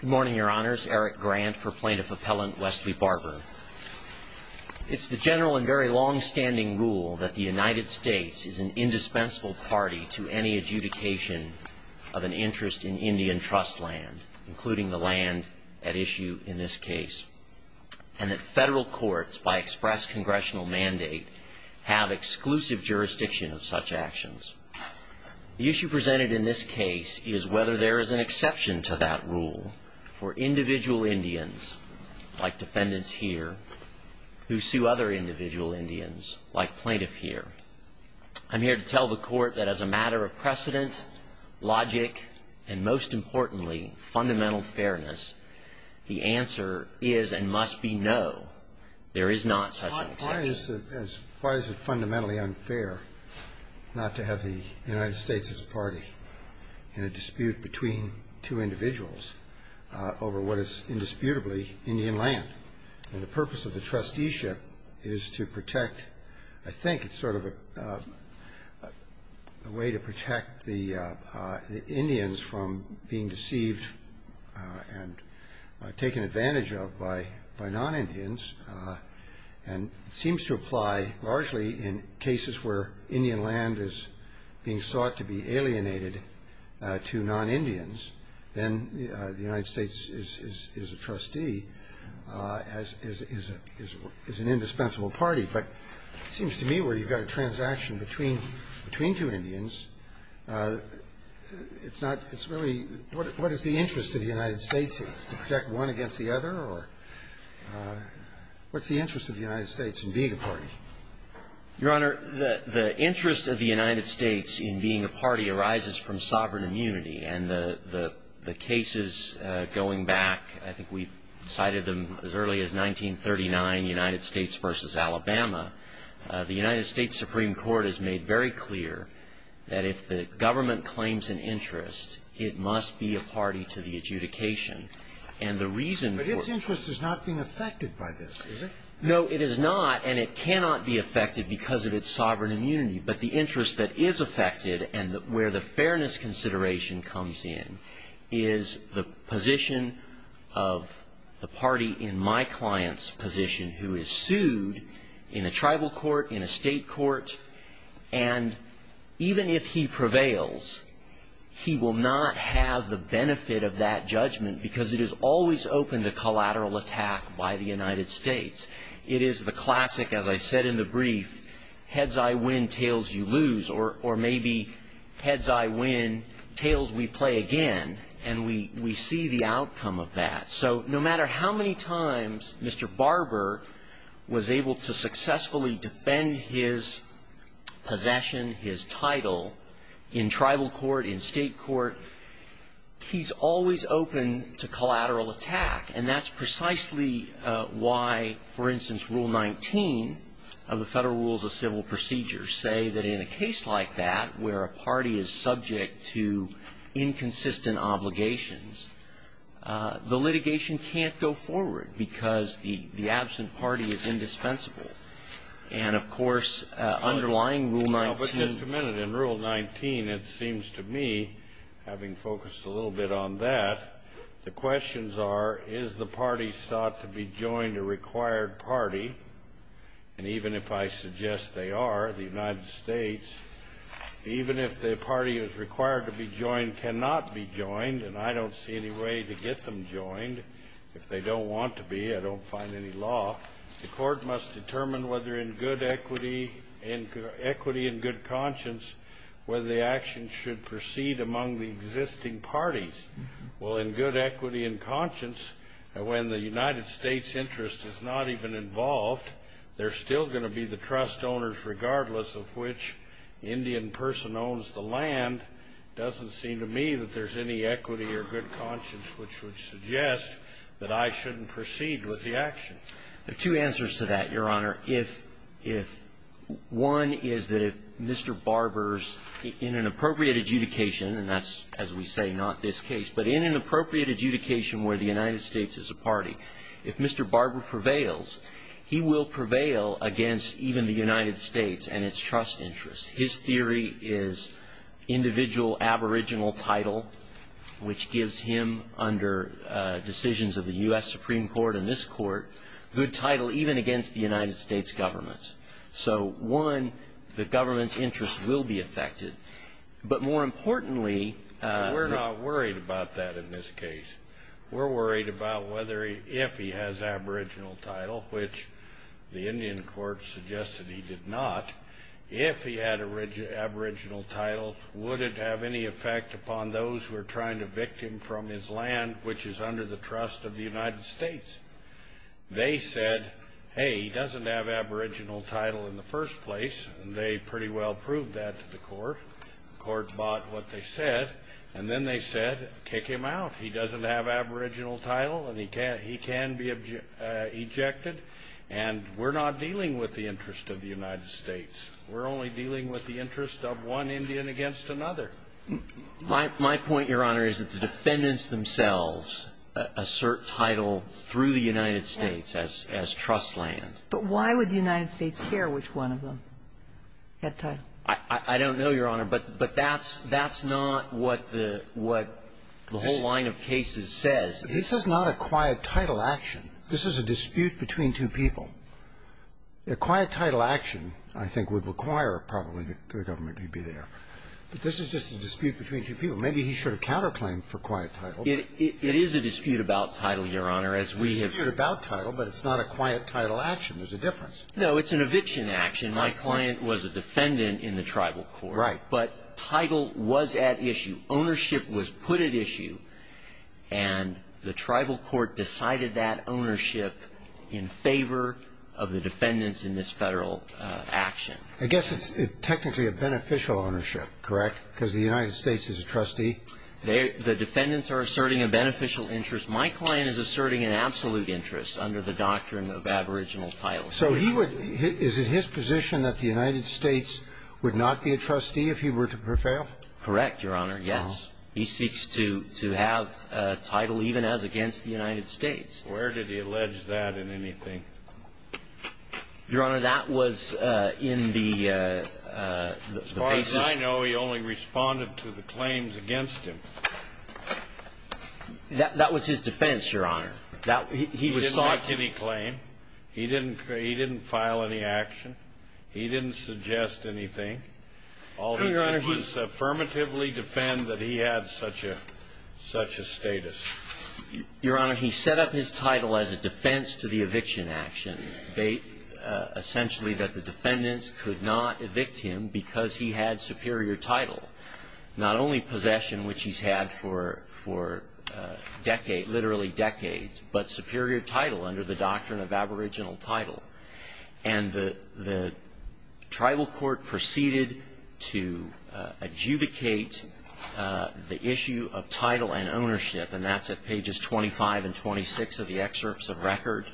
Good morning, Your Honors. Eric Grant for Plaintiff Appellant Wesley Barber. It's the general and very long-standing rule that the United States is an indispensable party to any adjudication of an interest in Indian trust land, including the land at issue in this case, and that federal courts, by express congressional mandate, have exclusive jurisdiction of such actions. The issue presented in this case is whether there is an exception to that rule for individual Indians, like defendants here, who sue other individual Indians, like plaintiff here. I'm here to tell the Court that as a matter of precedent, logic, and most importantly, fundamental fairness, the answer is and must be no. There is not such an exception. Why is it fundamentally unfair not to have the United States as a party in a dispute between two individuals over what is indisputably Indian land? And the purpose of the trusteeship is to protect, I think it's sort of a way to protect the Indians from being deceived and taken advantage of by non-Indians. And it seems to apply largely in cases where Indian land is being sought to be alienated to non-Indians. Then the United States is a trustee, is an indispensable party. But it seems to me where you've got a transaction between two Indians, it's not really what is the interest of the United States, to protect one against the other, or what's the interest of the United States in being a party? Your Honor, the interest of the United States in being a party arises from sovereign immunity, and the cases going back, I think we've cited them as early as 1939, United States v. Alabama, the United States Supreme Court has made very clear that if the government claims an interest, it must be a party to the adjudication. And the reason for it But its interest is not being affected by this, is it? No, it is not, and it cannot be affected because of its sovereign immunity. But the interest that is affected and where the fairness consideration comes in is the position of the party in my client's position who is sued in a tribal court, in a state court, and even if he prevails, he will not have the benefit of that judgment because it is always open to collateral attack by the United States. It is the classic, as I said in the brief, heads I win, tails you lose, or maybe heads I win, tails we play again, and we see the outcome of that. So no matter how many times Mr. Barber was able to successfully defend his possession, his title, in tribal court, in state court, he's always open to collateral attack, and that's precisely why, for instance, Rule 19 of the Federal Rules of Civil Procedures say that in a case like that where a party is subject to inconsistent obligations, the litigation can't go forward because the absent party is indispensable. And, of course, underlying Rule 19 of the Federal Rules of Civil Procedures says that in a case like that where a party is subject to inconsistent obligations, the litigation can't go forward because the absent party is indispensable. in good conscience whether the action should proceed among the existing parties. Well, in good equity and conscience, when the United States' interest is not even involved, they're still going to be the trust owners regardless of which Indian person owns the land. It doesn't seem to me that there's any equity or good conscience which would suggest that I shouldn't proceed with the action. There are two answers to that, Your Honor. If one is that if Mr. Barber's in an appropriate adjudication, and that's, as we say, not this case, but in an appropriate adjudication where the United States is a party, if Mr. Barber prevails, he will prevail against even the United States and its trust interests. His theory is individual aboriginal title, which gives him under decisions of the U.S. Supreme Court and this Court good title even against the United States government. So, one, the government's interest will be affected. But more importantly ---- We're not worried about that in this case. We're worried about whether if he has aboriginal title, which the Indian court suggested he did not, if he had aboriginal title, would it have any effect upon those who are trying to evict him from his land, which is under the trust of the United States? They said, hey, he doesn't have aboriginal title in the first place, and they pretty well proved that to the court. The court bought what they said. And then they said, kick him out. He doesn't have aboriginal title, and he can be ejected. And we're not dealing with the interest of the United States. We're only dealing with the interest of one Indian against another. My point, Your Honor, is that the defendants themselves assert title through the United States as trust land. But why would the United States care which one of them had title? I don't know, Your Honor. But that's not what the whole line of cases says. This is not a quiet title action. This is a dispute between two people. A quiet title action, I think, would require probably the government to be there. But this is just a dispute between two people. Maybe he should have counterclaimed for quiet title. It is a dispute about title, Your Honor, as we have ---- It's a dispute about title, but it's not a quiet title action. There's a difference. No, it's an eviction action. My client was a defendant in the tribal court. Right. But title was at issue. Ownership was put at issue. And the tribal court decided that ownership in favor of the defendants in this Federal action. I guess it's technically a beneficial ownership, correct? Because the United States is a trustee. The defendants are asserting a beneficial interest. My client is asserting an absolute interest under the doctrine of aboriginal title. So he would ---- Is it his position that the United States would not be a trustee if he were to prevail? Correct, Your Honor. Yes. He seeks to have title even as against the United States. Where did he allege that in anything? Your Honor, that was in the ---- As far as I know, he only responded to the claims against him. That was his defense, Your Honor. He didn't make any claim. He didn't file any action. He didn't suggest anything. No, Your Honor, he ---- All he did was affirmatively defend that he had such a status. Your Honor, he set up his title as a defense to the eviction action, essentially that the defendants could not evict him because he had superior title, not only possession, which he's had for decades, literally decades, but superior title under the doctrine of aboriginal title. And the tribal court proceeded to adjudicate the issue of title and ownership, and that's at pages 25 and 26 of the excerpts of record,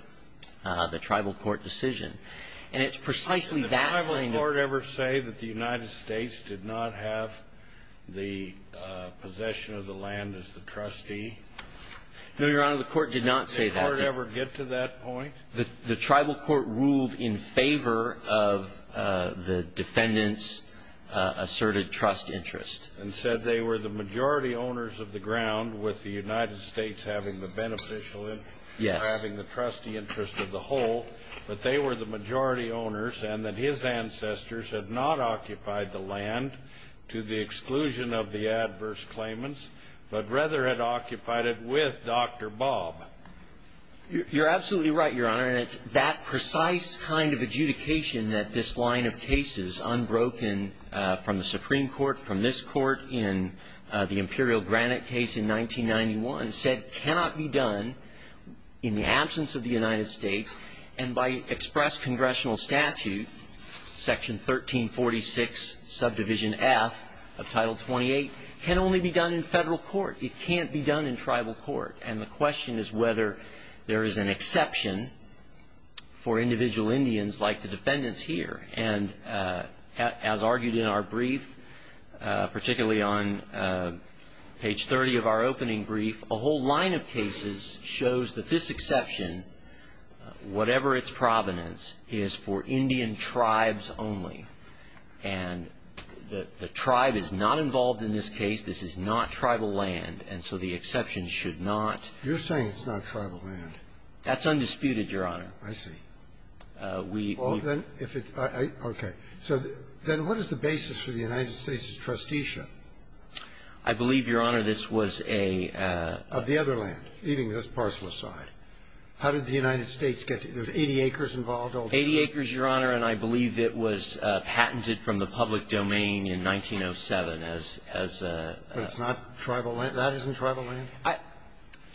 the tribal court decision. And it's precisely that ---- Did the tribal court ever say that the United States did not have the possession of the land as the trustee? No, Your Honor, the court did not say that. Did the court ever get to that point? The tribal court ruled in favor of the defendants' asserted trust interest. And said they were the majority owners of the ground, with the United States having the beneficial interest, or having the trustee interest of the whole, that they were the majority owners and that his ancestors had not occupied the land to the exclusion of the adverse claimants, but rather had occupied it with Dr. Bob. You're absolutely right, Your Honor. And it's that precise kind of adjudication that this line of cases, unbroken from the Supreme Court, from this Court in the Imperial Granite case in 1991, said cannot be done in the absence of the United States, and by express congressional statute, Section 1346, subdivision F of Title 28, can only be done in Federal court. It can't be done in tribal court. And the question is whether there is an exception for individual Indians like the defendants here. And as argued in our brief, particularly on page 30 of our opening brief, a whole line of cases shows that this exception, whatever its provenance, is for Indian tribes only. And the tribe is not involved in this case. This is not tribal land. And so the exception should not. You're saying it's not tribal land. That's undisputed, Your Honor. I see. Well, then, if it's – okay. So then what is the basis for the United States' trusteeship? I believe, Your Honor, this was a – Of the other land, leaving this parcel aside. How did the United States get – there's 80 acres involved? Eighty acres, Your Honor, and I believe it was patented from the public domain in 1907 as a – But it's not tribal land? That isn't tribal land?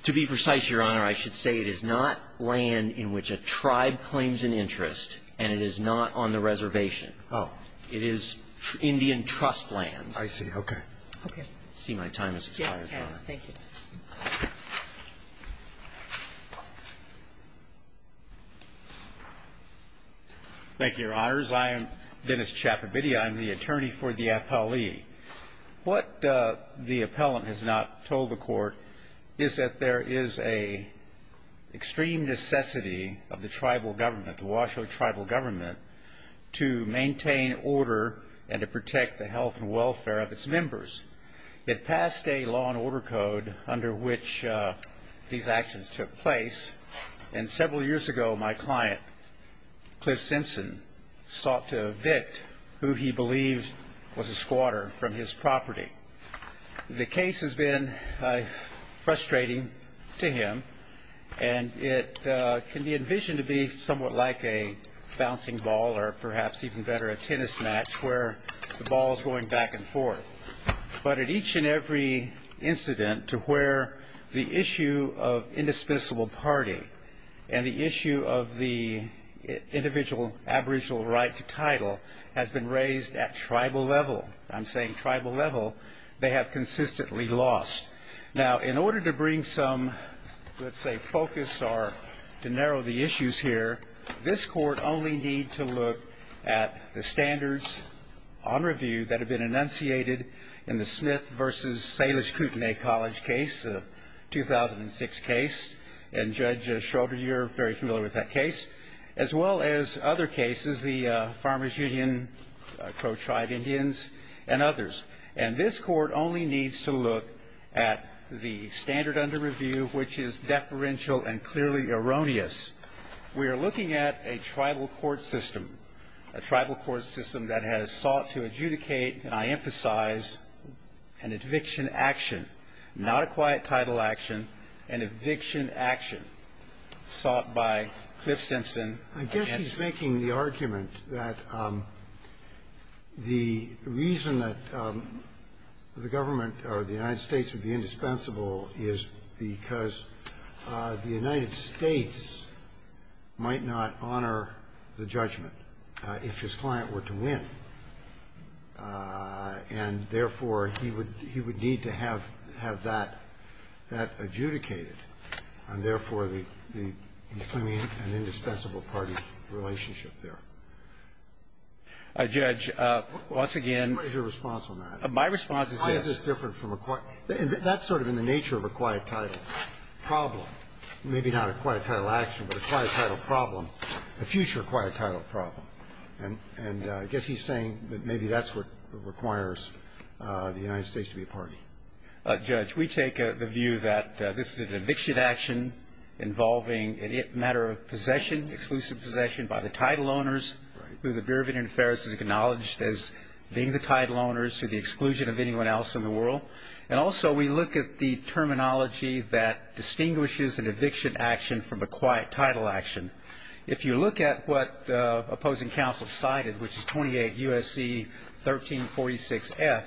To be precise, Your Honor, I should say it is not land in which a tribe claims an interest, and it is not on the reservation. Oh. It is Indian trust land. I see. Okay. Okay. I see my time has expired, Your Honor. Yes, it has. Thank you. Thank you, Your Honors. I am Dennis Chapobidia. I'm the attorney for the appellee. What the appellant has not told the court is that there is a extreme necessity of the tribal government, the Washoe tribal government, to maintain order and to protect the health and welfare of its members. It passed a law and order code under which these actions took place, and several years ago my client, Cliff Simpson, sought to evict who he believed was a squatter from his property. The case has been frustrating to him, and it can be envisioned to be somewhat like a bouncing ball or, perhaps even better, a tennis match where the ball is going back and forth. But at each and every incident to where the issue of indispensable party and the issue of the individual aboriginal right to title has been raised at tribal level, I'm saying tribal level, they have consistently lost. Now, in order to bring some, let's say, focus or to narrow the issues here, this court only need to look at the standards on review that have been enunciated in the Smith v. Salish Kootenai College case, a 2006 case, and Judge Schroeder, you're very familiar with that case, as well as other cases, the Farmers Union, Crow Tribe Indians, and others. And this court only needs to look at the standard under review which is deferential and clearly erroneous. We are looking at a tribal court system, a tribal court system that has sought to adjudicate, and I emphasize, an eviction action, not a quiet title action, an eviction action sought by Cliff Simpson. I guess he's making the argument that the reason that the government or the United States would be indispensable is because the United States might not honor the judgment if his client were to win. And, therefore, he would need to have that adjudicated. And, therefore, he's claiming an indispensable party relationship there. Judge, once again. What is your response on that? My response is this. That's sort of in the nature of a quiet title problem. Maybe not a quiet title action, but a quiet title problem, a future quiet title problem. And I guess he's saying that maybe that's what requires the United States to be a party. Judge, we take the view that this is an eviction action involving a matter of possession, exclusive possession by the title owners who the Bureau of Indian Affairs has acknowledged as being the title owners to the exclusion of anyone else in the world. And, also, we look at the terminology that distinguishes an eviction action from a quiet title action. If you look at what opposing counsel cited, which is 28 U.S.C. 1346F,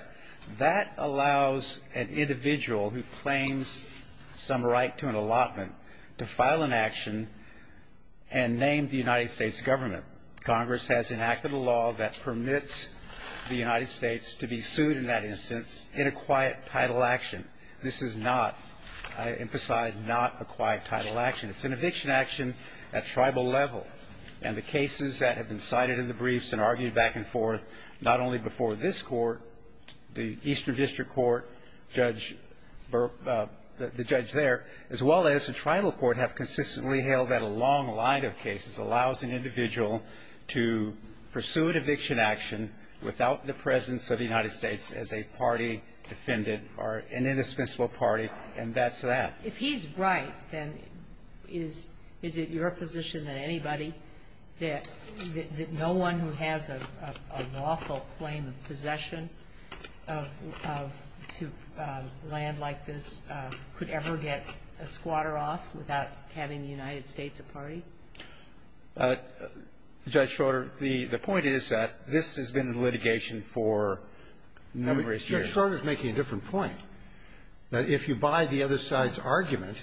that allows an individual who claims some right to an allotment to file an action and name the United States government. Congress has enacted a law that permits the United States to be sued in that instance in a quiet title action. This is not, I emphasize, not a quiet title action. It's an eviction action at tribal level. And the cases that have been cited in the briefs and argued back and forth, not only before this Court, the Eastern District Court, the judge there, as well as the tribal court have consistently held that a long line of cases allows an individual to pursue an eviction action without the presence of the United States as a party defendant or an indispensable party, and that's that. If he's right, then is it your position than anybody that no one who has a lawful claim of possession to land like this could ever get a squatter off without having the United States a party? Judge Schroeder, the point is that this has been in litigation for numerous years. Judge Schroeder is making a different point, that if you buy the other side's argument,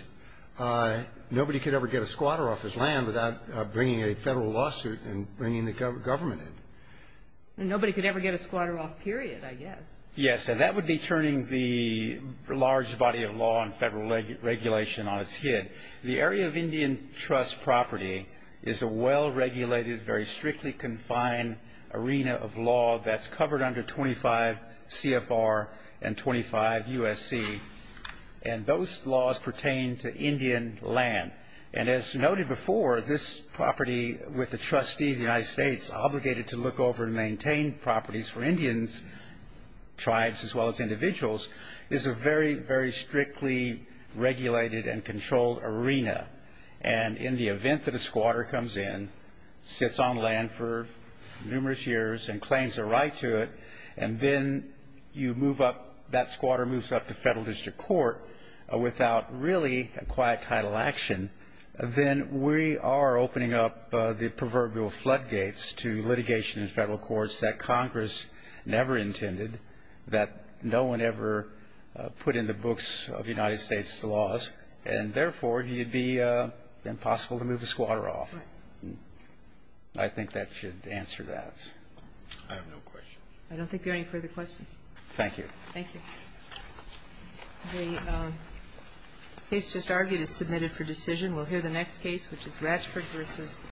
nobody could ever get a squatter off his land without bringing a Federal lawsuit and bringing the government in. Nobody could ever get a squatter off, period, I guess. Yes. And that would be turning the large body of law and Federal regulation on its head. The area of Indian trust property is a well-regulated, very strictly confined arena of law that's covered under 25 CFR and 25 USC, and those laws pertain to Indian land. And as noted before, this property with the trustee of the United States obligated to look over and maintain properties for Indians, tribes as well as individuals, is a very, very strictly regulated and controlled arena. And in the event that a squatter comes in, sits on land for numerous years and claims a right to it, and then you move up, that squatter moves up to Federal district court without really a quiet title action, then we are opening up the proverbial floodgates to litigation in Federal courts that Congress never intended, that no one ever put in the books of United States laws, and therefore, it would be impossible to move a squatter off. Right. I think that should answer that. I have no questions. I don't think there are any further questions. Thank you. Thank you. The case just argued is submitted for decision. We'll hear the next case, which is Ratchford v.